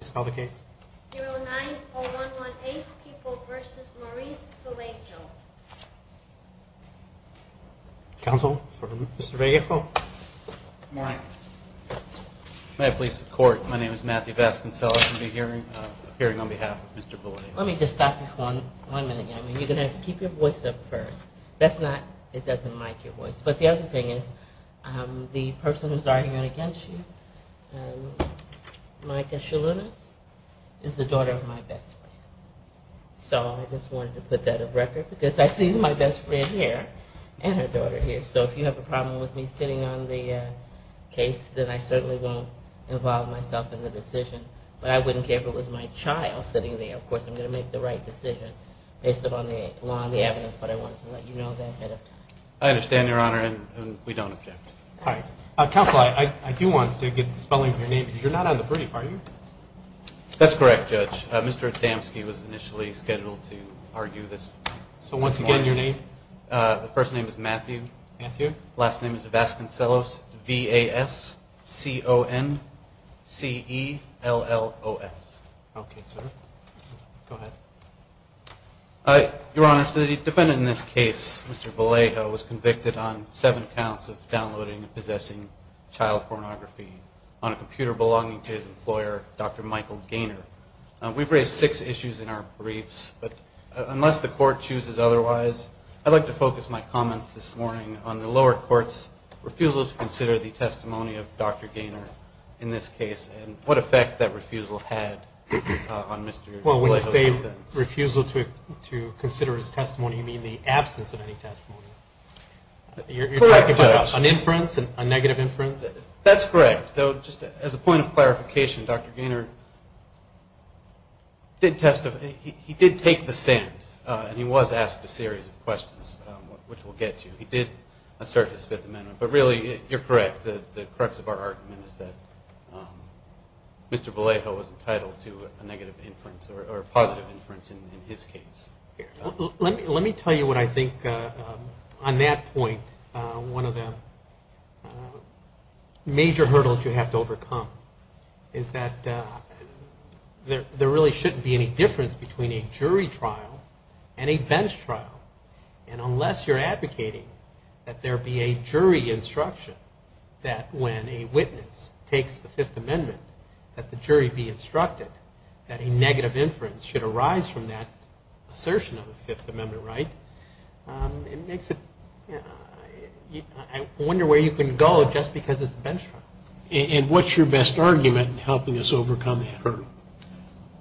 090118 People v. Maurice Vallejo Counsel for Mr. Vallejo May I please support, my name is Matthew Vasconcellos and I'm appearing on behalf of Mr. Vallejo Let me just stop you for one minute, you're going to have to keep your voice up first That's not, it doesn't mic your voice, but the other thing is The person who's arguing against you, Micah Shalounis, is the daughter of my best friend So I just wanted to put that on record, because I see my best friend here, and her daughter here So if you have a problem with me sitting on the case, then I certainly won't involve myself in the decision But I wouldn't care if it was my child sitting there, of course I'm going to make the right decision Based upon the law and the evidence, but I wanted to let you know that ahead of time I understand, your honor, and we don't object Counsel, I do want to get the spelling of your name, because you're not on the brief, are you? That's correct, judge, Mr. Adamski was initially scheduled to argue this So once again, your name? The first name is Matthew Last name is Vasconcellos, V-A-S-C-O-N-C-E-L-L-O-S Okay, sir, go ahead Your honor, the defendant in this case, Mr. Vallejo, was convicted on seven counts of downloading and possessing child pornography On a computer belonging to his employer, Dr. Michael Gaynor We've raised six issues in our briefs, but unless the court chooses otherwise I'd like to focus my comments this morning on the lower court's refusal to consider the testimony of Dr. Gaynor in this case And what effect that refusal had on Mr. Vallejo's defense Does the refusal to consider his testimony mean the absence of any testimony? You're talking about an inference, a negative inference? That's correct, though just as a point of clarification, Dr. Gaynor did testify He did take the stand, and he was asked a series of questions, which we'll get to He did assert his Fifth Amendment, but really, you're correct The crux of our argument is that Mr. Vallejo was entitled to a negative inference, or a positive inference in his case Let me tell you what I think, on that point, one of the major hurdles you have to overcome Is that there really shouldn't be any difference between a jury trial and a bench trial And unless you're advocating that there be a jury instruction, that when a witness takes the Fifth Amendment That the jury be instructed that a negative inference should arise from that assertion of a Fifth Amendment right It makes it, I wonder where you can go just because it's a bench trial And what's your best argument in helping us overcome that hurdle?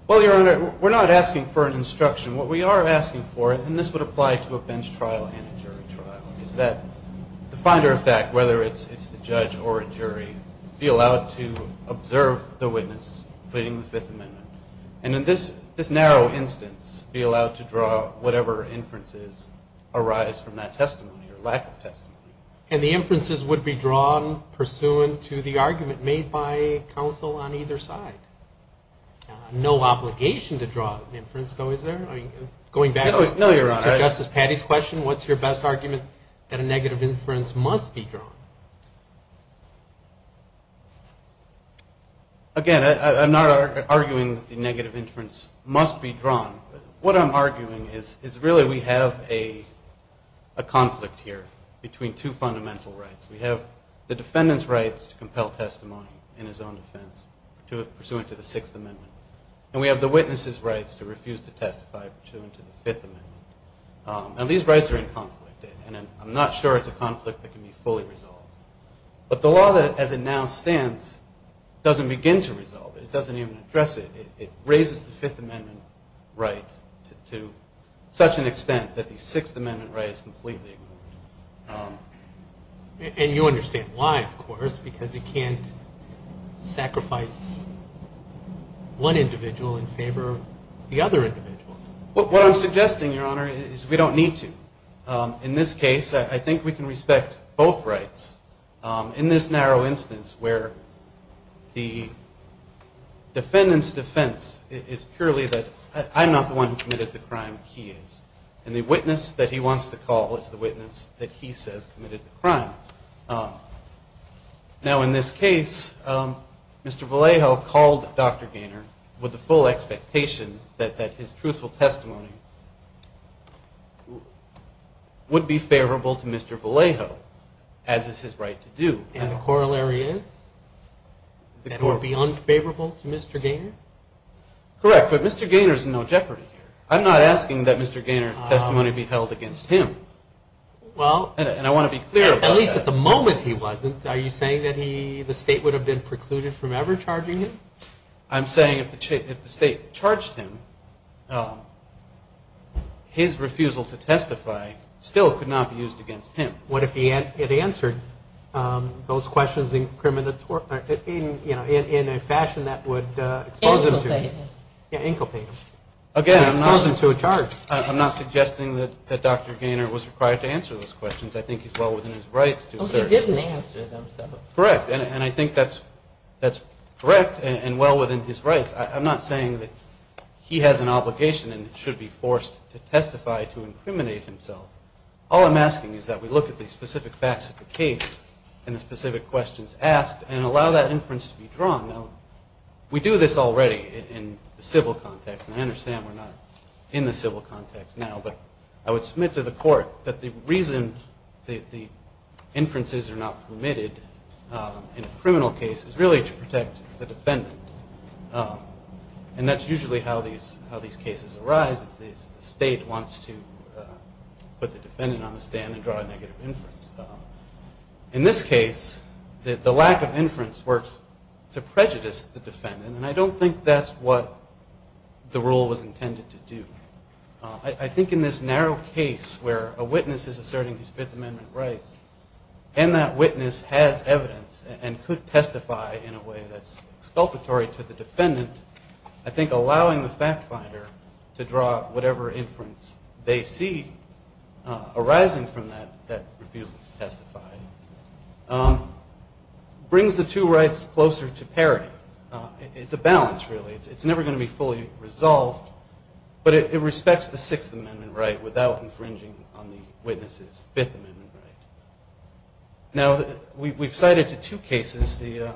Well, Your Honor, we're not asking for an instruction, what we are asking for, and this would apply to a bench trial and a jury trial Is that the finder of fact, whether it's the judge or a jury, be allowed to observe the witness pleading the Fifth Amendment And in this narrow instance, be allowed to draw whatever inferences arise from that testimony, or lack of testimony And the inferences would be drawn pursuant to the argument made by counsel on either side No obligation to draw an inference though, is there? Going back to Justice Patty's question, what's your best argument that a negative inference must be drawn? Again, I'm not arguing that the negative inference must be drawn What I'm arguing is really we have a conflict here between two fundamental rights We have the defendant's rights to compel testimony in his own defense pursuant to the Sixth Amendment And we have the witness's rights to refuse to testify pursuant to the Fifth Amendment And these rights are in conflict, and I'm not sure it's a conflict that can be fully resolved But the law as it now stands doesn't begin to resolve it, it doesn't even address it It raises the Fifth Amendment right to such an extent that the Sixth Amendment right is completely ignored And you understand why, of course, because it can't sacrifice one individual in favor of the other individual What I'm suggesting, Your Honor, is we don't need to In this case, I think we can respect both rights In this narrow instance where the defendant's defense is purely that I'm not the one who committed the crime, he is And the witness that he wants to call is the witness that he says committed the crime Now, in this case, Mr. Vallejo called Dr. Gaynor with the full expectation that his truthful testimony Would be favorable to Mr. Vallejo, as is his right to do And the corollary is? That it would be unfavorable to Mr. Gaynor? Correct, but Mr. Gaynor is in no jeopardy here I'm not asking that Mr. Gaynor's testimony be held against him Well, at least at the moment he wasn't Are you saying that the State would have been precluded from ever charging him? I'm saying if the State charged him, his refusal to testify still could not be used against him What if it answered those questions in a fashion that would expose him to a charge? Again, I'm not suggesting that Dr. Gaynor was required to answer those questions I think he's well within his rights to assert Correct, and I think that's correct and well within his rights I'm not saying that he has an obligation and should be forced to testify to incriminate himself All I'm asking is that we look at the specific facts of the case And the specific questions asked and allow that inference to be drawn Now, we do this already in the civil context And I understand we're not in the civil context now But I would submit to the court that the reason the inferences are not permitted in a criminal case Is really to protect the defendant And that's usually how these cases arise The State wants to put the defendant on the stand and draw a negative inference In this case, the lack of inference works to prejudice the defendant And I don't think that's what the rule was intended to do I think in this narrow case where a witness is asserting his Fifth Amendment rights And that witness has evidence and could testify in a way that's exculpatory to the defendant I think allowing the fact finder to draw whatever inference they see arising from that That refused to testify Brings the two rights closer to parity It's a balance, really It's never going to be fully resolved But it respects the Sixth Amendment right without infringing on the witness's Fifth Amendment right Now, we've cited to two cases The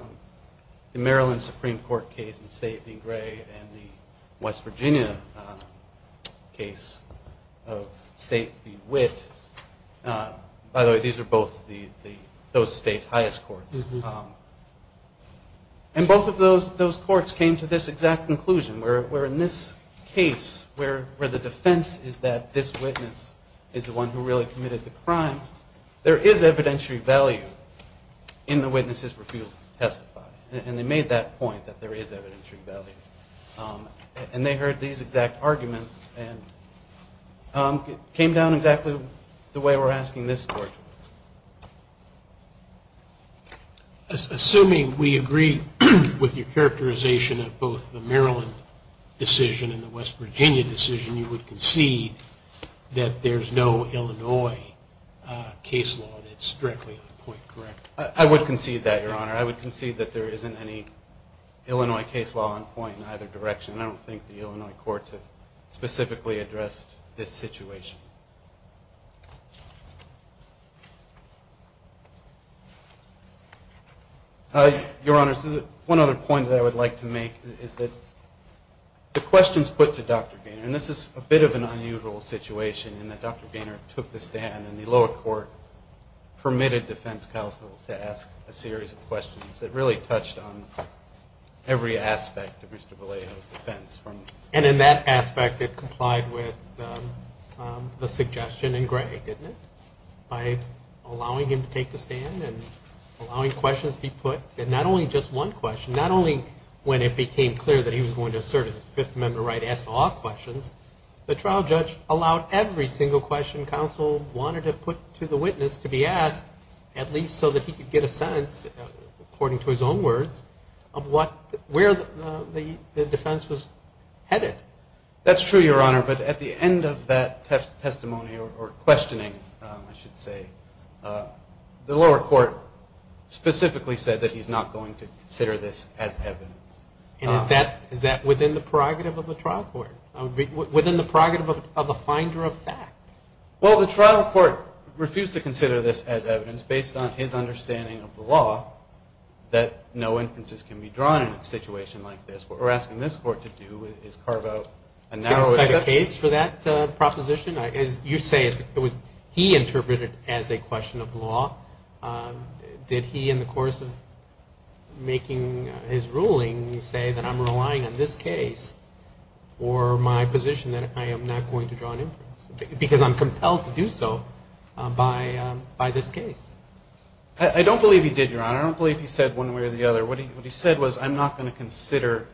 Maryland Supreme Court case in State v. Gray And the West Virginia case of State v. Witt By the way, these are both those states' highest courts And both of those courts came to this exact conclusion Where in this case, where the defense is that this witness is the one who really committed the crime There is evidentiary value in the witness's refusal to testify And they made that point that there is evidentiary value And they heard these exact arguments And it came down exactly the way we're asking this court to work In the West Virginia decision, you would concede that there's no Illinois case law And it's directly on point, correct? I would concede that, Your Honor I would concede that there isn't any Illinois case law on point in either direction And I don't think the Illinois courts have specifically addressed this situation Your Honor, one other point that I would like to make is that The questions put to Dr. Gaynor And this is a bit of an unusual situation In that Dr. Gaynor took the stand And the lower court permitted defense counsel to ask a series of questions That really touched on every aspect of Mr. Vallejo's defense And in that aspect, it complied with the suggestion In Gray, didn't it? By allowing him to take the stand And allowing questions to be put And not only just one question Not only when it became clear that he was going to serve as a Fifth Amendment right To ask all questions The trial judge allowed every single question counsel wanted to put to the witness To be asked, at least so that he could get a sense According to his own words Of where the defense was headed That's true, Your Honor But at the end of that testimony Or questioning, I should say The lower court specifically said That he's not going to consider this as evidence And is that within the prerogative of the trial court? Within the prerogative of the finder of fact? Well, the trial court refused to consider this as evidence Based on his understanding of the law That no inferences can be drawn in a situation like this What we're asking this court to do is carve out A narrow exception Did he set a case for that proposition? As you say, he interpreted it as a question of law Did he, in the course of making his ruling Say that I'm relying on this case For my position that I am not going to draw an inference Because I'm compelled to do so By this case I don't believe he did, Your Honor I don't believe he said one way or the other What he said was, I'm not going to consider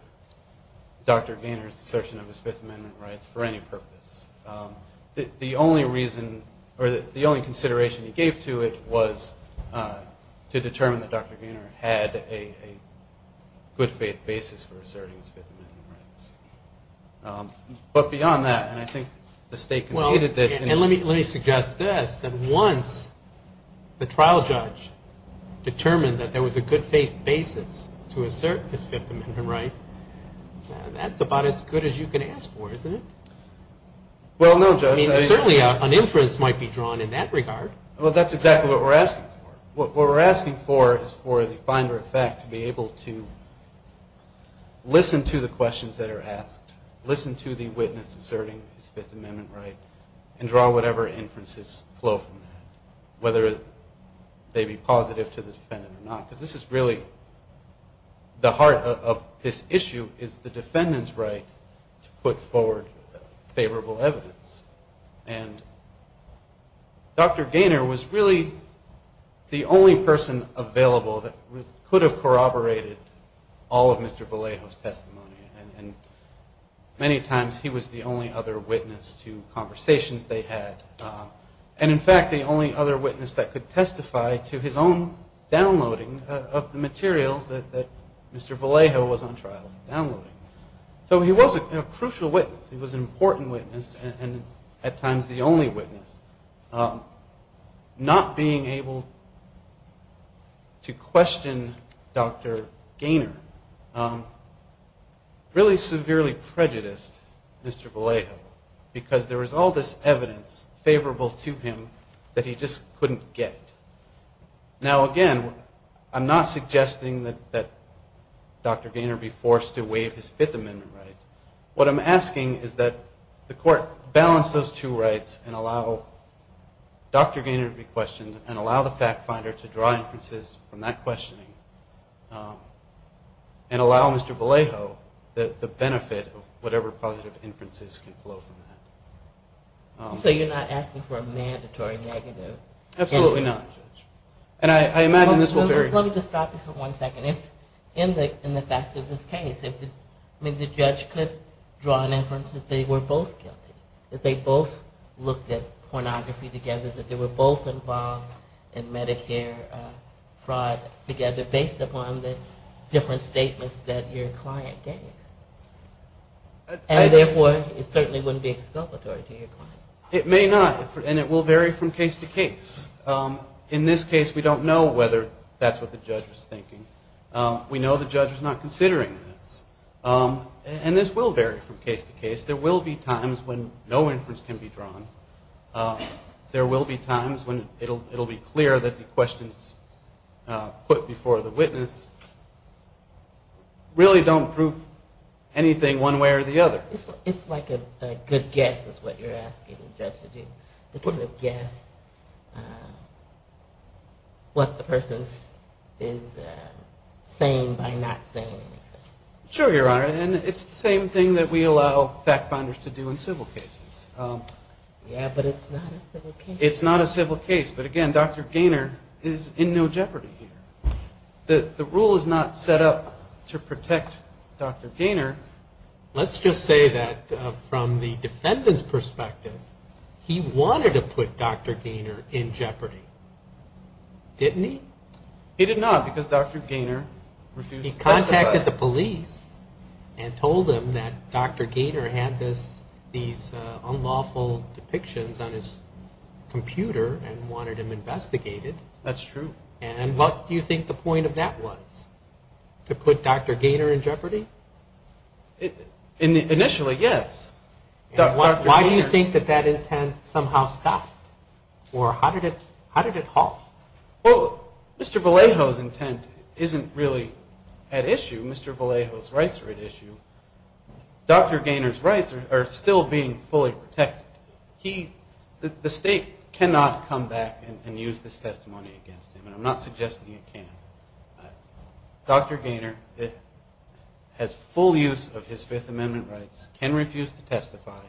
Dr. Gaynor's assertion of his Fifth Amendment rights For any purpose The only reason, or the only consideration he gave to it Was to determine that Dr. Gaynor had a good faith basis For asserting his Fifth Amendment rights But beyond that, and I think the State conceded this Well, and let me suggest this That once the trial judge determined That there was a good faith basis To assert his Fifth Amendment right That's about as good as you can ask for, isn't it? Well, no, Judge I mean, certainly an inference might be drawn in that regard Well, that's exactly what we're asking for What we're asking for is for the finder of fact To be able to listen to the questions that are asked Listen to the witness asserting his Fifth Amendment right Whether they be positive to the defendant or not Because this is really, the heart of this issue Is the defendant's right to put forward favorable evidence And Dr. Gaynor was really the only person available That could have corroborated all of Mr. Vallejo's testimony And many times he was the only other witness To conversations they had And in fact, the only other witness that could testify To his own downloading of the materials That Mr. Vallejo was on trial downloading So he was a crucial witness He was an important witness And at times the only witness Not being able to question Dr. Gaynor Really severely prejudiced Mr. Vallejo Because there was all this evidence favorable to him That he just couldn't get Now again, I'm not suggesting that Dr. Gaynor be forced To waive his Fifth Amendment rights What I'm asking is that the court balance those two rights And allow Dr. Gaynor to be questioned And allow the fact finder to draw inferences from that questioning And allow Mr. Vallejo the benefit of whatever positive inferences Can flow from that So you're not asking for a mandatory negative Absolutely not And I imagine this will vary Let me just stop you for one second In the facts of this case Maybe the judge could draw an inference that they were both guilty That they both looked at pornography together That they were both involved in Medicare fraud together Based upon the different statements that your client gave And therefore it certainly wouldn't be exculpatory to your client It may not And it will vary from case to case In this case we don't know whether that's what the judge was thinking We know the judge was not considering this And this will vary from case to case There will be times when no inference can be drawn There will be times when it'll be clear that the questions Put before the witness Really don't prove anything one way or the other It's like a good guess is what you're asking the judge to do To kind of guess what the person is saying by not saying anything Sure your honor And it's the same thing that we allow fact finders to do in civil cases Yeah but it's not a civil case It's not a civil case But again Dr. Gaynor is in no jeopardy here The rule is not set up to protect Dr. Gaynor Let's just say that from the defendant's perspective He wanted to put Dr. Gaynor in jeopardy Didn't he? He did not because Dr. Gaynor refused to testify He contacted the police And told them that Dr. Gaynor had these unlawful depictions on his computer And wanted him investigated That's true And what do you think the point of that was? To put Dr. Gaynor in jeopardy? Initially yes Why do you think that that intent somehow stopped? Or how did it halt? Well Mr. Vallejo's intent isn't really at issue Mr. Vallejo's rights are at issue Dr. Gaynor's rights are still being fully protected The state cannot come back and use this testimony against him And I'm not suggesting it can Dr. Gaynor has full use of his Fifth Amendment rights Can refuse to testify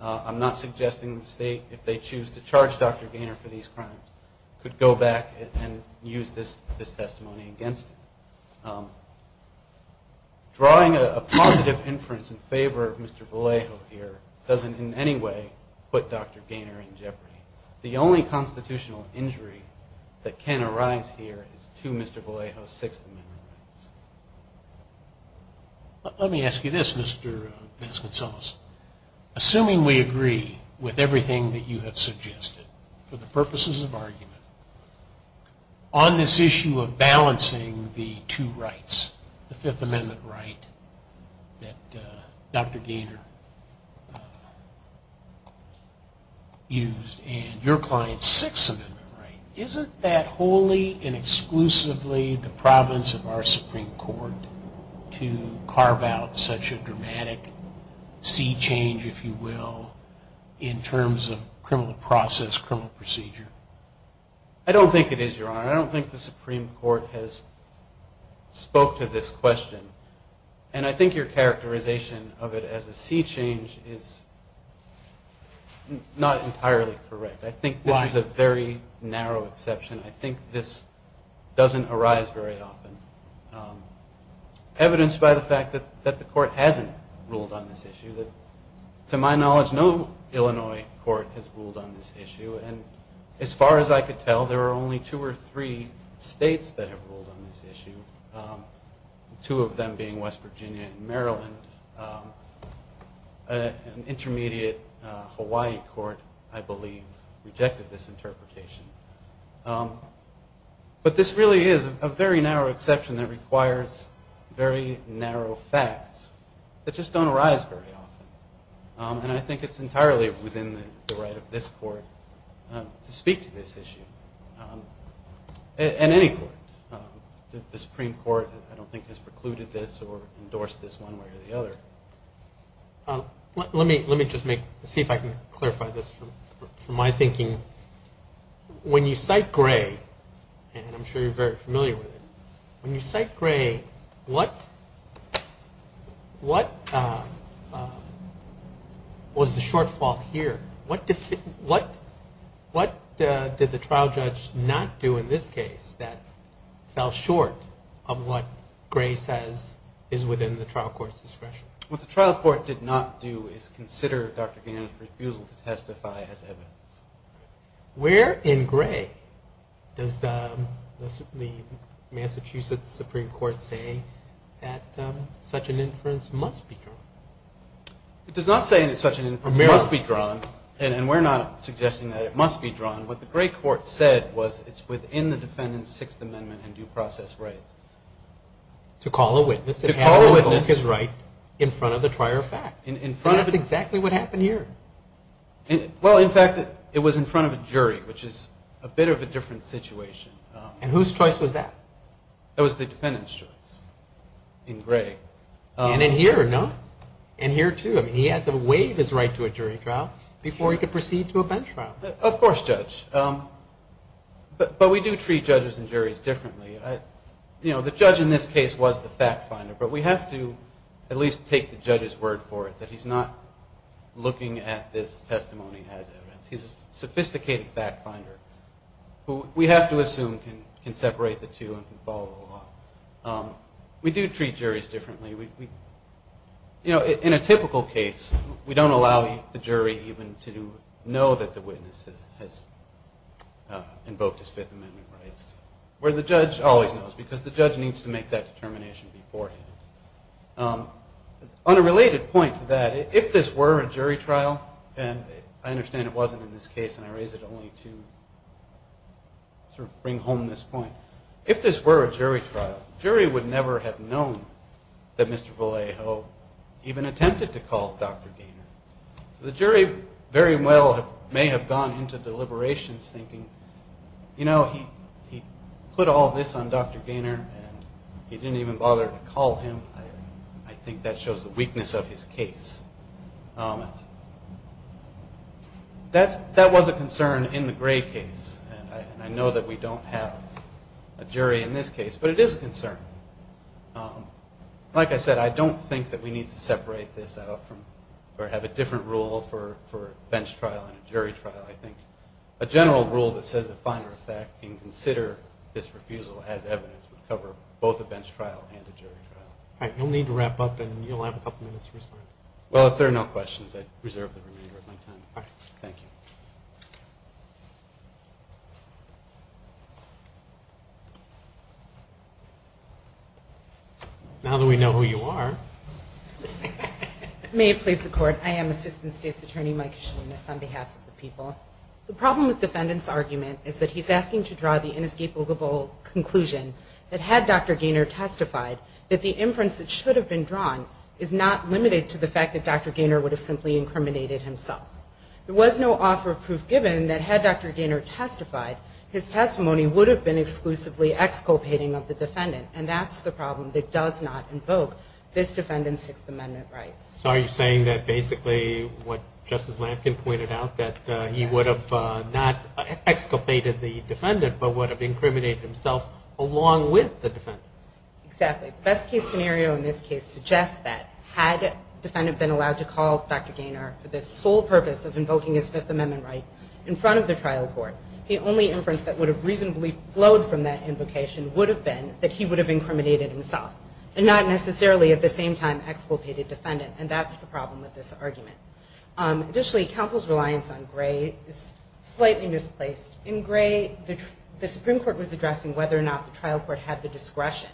I'm not suggesting the state If they choose to charge Dr. Gaynor for these crimes Could go back and use this testimony against him Drawing a positive inference in favor of Mr. Vallejo here Doesn't in any way put Dr. Gaynor in jeopardy The only constitutional injury that can arise here Is to Mr. Vallejo's Sixth Amendment rights Let me ask you this Mr. Baskin-Sullis Assuming we agree with everything that you have suggested For the purposes of argument On this issue of balancing the two rights The Fifth Amendment right that Dr. Gaynor Used and your client's Sixth Amendment right Isn't that wholly and exclusively the province of our Supreme Court To carve out such a dramatic sea change if you will In terms of criminal process, criminal procedure I don't think it is your honor I don't think the Supreme Court has spoke to this question And I think your characterization of it as a sea change Is not entirely correct I think this is a very narrow exception I think this doesn't arise very often Evidenced by the fact that the court hasn't ruled on this issue To my knowledge no Illinois court has ruled on this issue And as far as I could tell There are only two or three states that have ruled on this issue Two of them being West Virginia and Maryland An intermediate Hawaii court I believe Rejected this interpretation But this really is a very narrow exception That requires very narrow facts That just don't arise very often And I think it's entirely within the right of this court To speak to this issue And any court The Supreme Court I don't think has precluded this Or endorsed this one way or the other Let me just see if I can clarify this from my thinking When you cite Gray And I'm sure you're very familiar with it When you cite Gray What was the shortfall here? What did the trial judge not do in this case That fell short of what Gray says is within the trial court's discretion? What the trial court did not do Is consider Dr. Gannon's refusal to testify as evidence Where in Gray does the Massachusetts Supreme Court say That such an inference must be drawn? It does not say that such an inference must be drawn And we're not suggesting that it must be drawn What the Gray court said was It's within the defendant's Sixth Amendment and due process rights To call a witness To call a witness In front of the prior fact That's exactly what happened here Well in fact it was in front of a jury Which is a bit of a different situation And whose choice was that? That was the defendant's choice In Gray And in here no? And here too He had to waive his right to a jury trial Before he could proceed to a bench trial Of course judge But we do treat judges and juries differently The judge in this case was the fact finder But we have to at least take the judge's word for it That he's not looking at this testimony as evidence He's a sophisticated fact finder Who we have to assume can separate the two And can follow the law We do treat juries differently In a typical case We don't allow the jury even to know That the witness has invoked his Fifth Amendment rights Where the judge always knows Because the judge needs to make that determination beforehand On a related point to that If this were a jury trial And I understand it wasn't in this case And I raise it only to Sort of bring home this point If this were a jury trial The jury would never have known That Mr. Vallejo even attempted to call Dr. Gaynor The jury very well may have gone into deliberations Thinking, you know, he put all this on Dr. Gaynor And he didn't even bother to call him I think that shows the weakness of his case That was a concern in the Gray case And I know that we don't have a jury in this case But it is a concern Like I said, I don't think that we need to separate this out Or have a different rule for a bench trial and a jury trial I think a general rule that says the finer effect And consider this refusal as evidence Would cover both a bench trial and a jury trial All right, you'll need to wrap up And you'll have a couple minutes to respond Well, if there are no questions I reserve the remainder of my time Thank you Now that we know who you are May it please the court I am Assistant State's Attorney Mike Shlemus On behalf of the people The problem with the defendant's argument Is that he's asking to draw the inescapable conclusion That had Dr. Gaynor testified That the inference that should have been drawn Is not limited to the fact that Dr. Gaynor Would have simply incriminated himself There was no offer of proof given That had Dr. Gaynor testified His testimony would have been exclusively Exculpating of the defendant And that's the problem That does not invoke this defendant's 6th Amendment rights So are you saying that basically What Justice Lampkin pointed out That he would have not exculpated the defendant But would have incriminated himself Along with the defendant Exactly The best case scenario in this case suggests that Had the defendant been allowed to call Dr. Gaynor For the sole purpose of invoking his 5th Amendment right In front of the trial court The only inference that would have reasonably Flowed from that invocation Would have been that he would have incriminated himself And not necessarily at the same time Exculpated the defendant And that's the problem with this argument Additionally Counsel's reliance on Gray is slightly misplaced In Gray The Supreme Court was addressing Whether or not the trial court had the discretion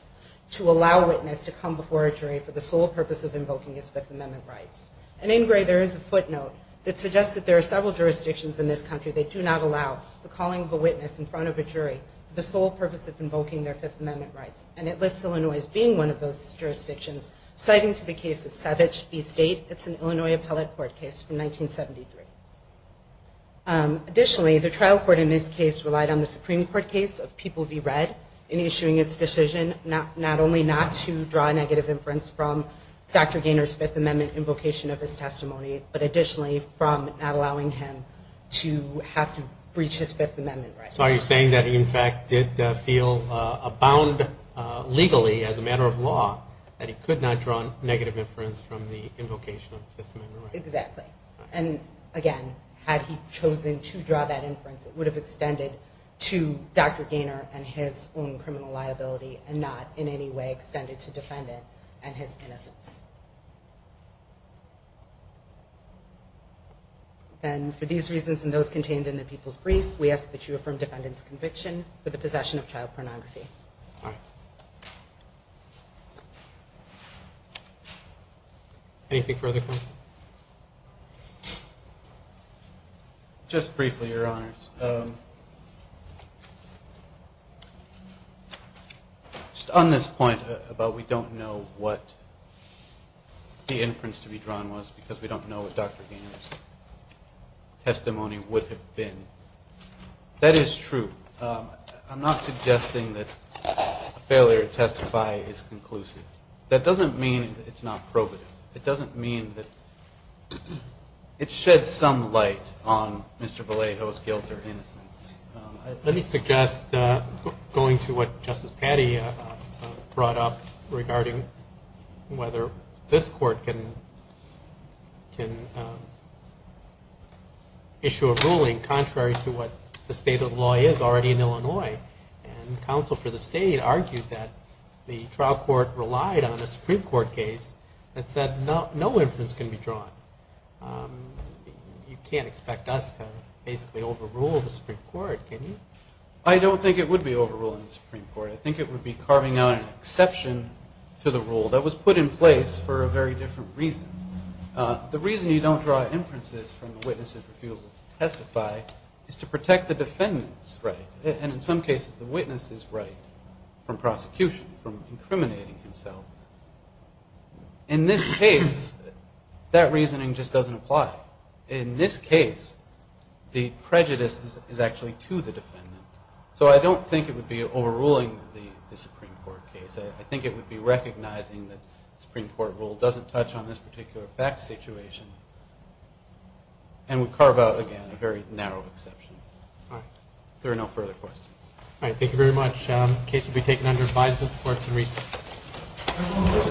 To allow a witness to come before a jury For the sole purpose of invoking his 5th Amendment rights And in Gray there is a footnote That suggests that there are several jurisdictions In this country That do not allow the calling of a witness In front of a jury For the sole purpose of invoking their 5th Amendment rights And it lists Illinois as being one of those jurisdictions Citing to the case of Savage v. State It's an Illinois appellate court case from 1973 Additionally The trial court in this case relied on the Supreme Court case Of People v. Red In issuing its decision Not only not to draw negative inference From Dr. Gaynor's 5th Amendment invocation of his testimony But additionally From not allowing him to have to breach his 5th Amendment rights So are you saying that he in fact did feel Abound legally as a matter of law That he could not draw negative inference From the invocation of the 5th Amendment rights Exactly And again Had he chosen to draw that inference It would have extended to Dr. Gaynor And his own criminal liability And not in any way extended to defendant And his innocence Then for these reasons And those contained in the people's brief We ask that you affirm defendant's conviction For the possession of child pornography All right Anything further, counsel? Just briefly, Your Honors Just on this point About we don't know what The inference to be drawn was Because we don't know what Dr. Gaynor's Testimony would have been That is true I'm not suggesting that A failure to testify is conclusive That doesn't mean it's not probative It doesn't mean that It sheds some light On Mr. Vallejo's guilt or innocence Let me suggest Going to what Justice Patti Brought up regarding Whether this court can Issue a ruling contrary to what The state of the law is already in Illinois And counsel for the state argued that The trial court relied on a Supreme Court case That said no inference can be drawn You can't expect us to Basically overrule the Supreme Court, can you? I don't think it would be overruling the Supreme Court I think it would be carving out an exception To the rule that was put in place For a very different reason The reason you don't draw inferences From the witnesses who refused to testify Is to protect the defendant's right And in some cases the witness's right From prosecution, from incriminating himself In this case That reasoning just doesn't apply In this case The prejudice is actually to the defendant So I don't think it would be overruling The Supreme Court case I think it would be recognizing That the Supreme Court rule doesn't touch On this particular fact situation And would carve out again A very narrow exception If there are no further questions All right, thank you very much The case will be taken under Advisement of the courts in recess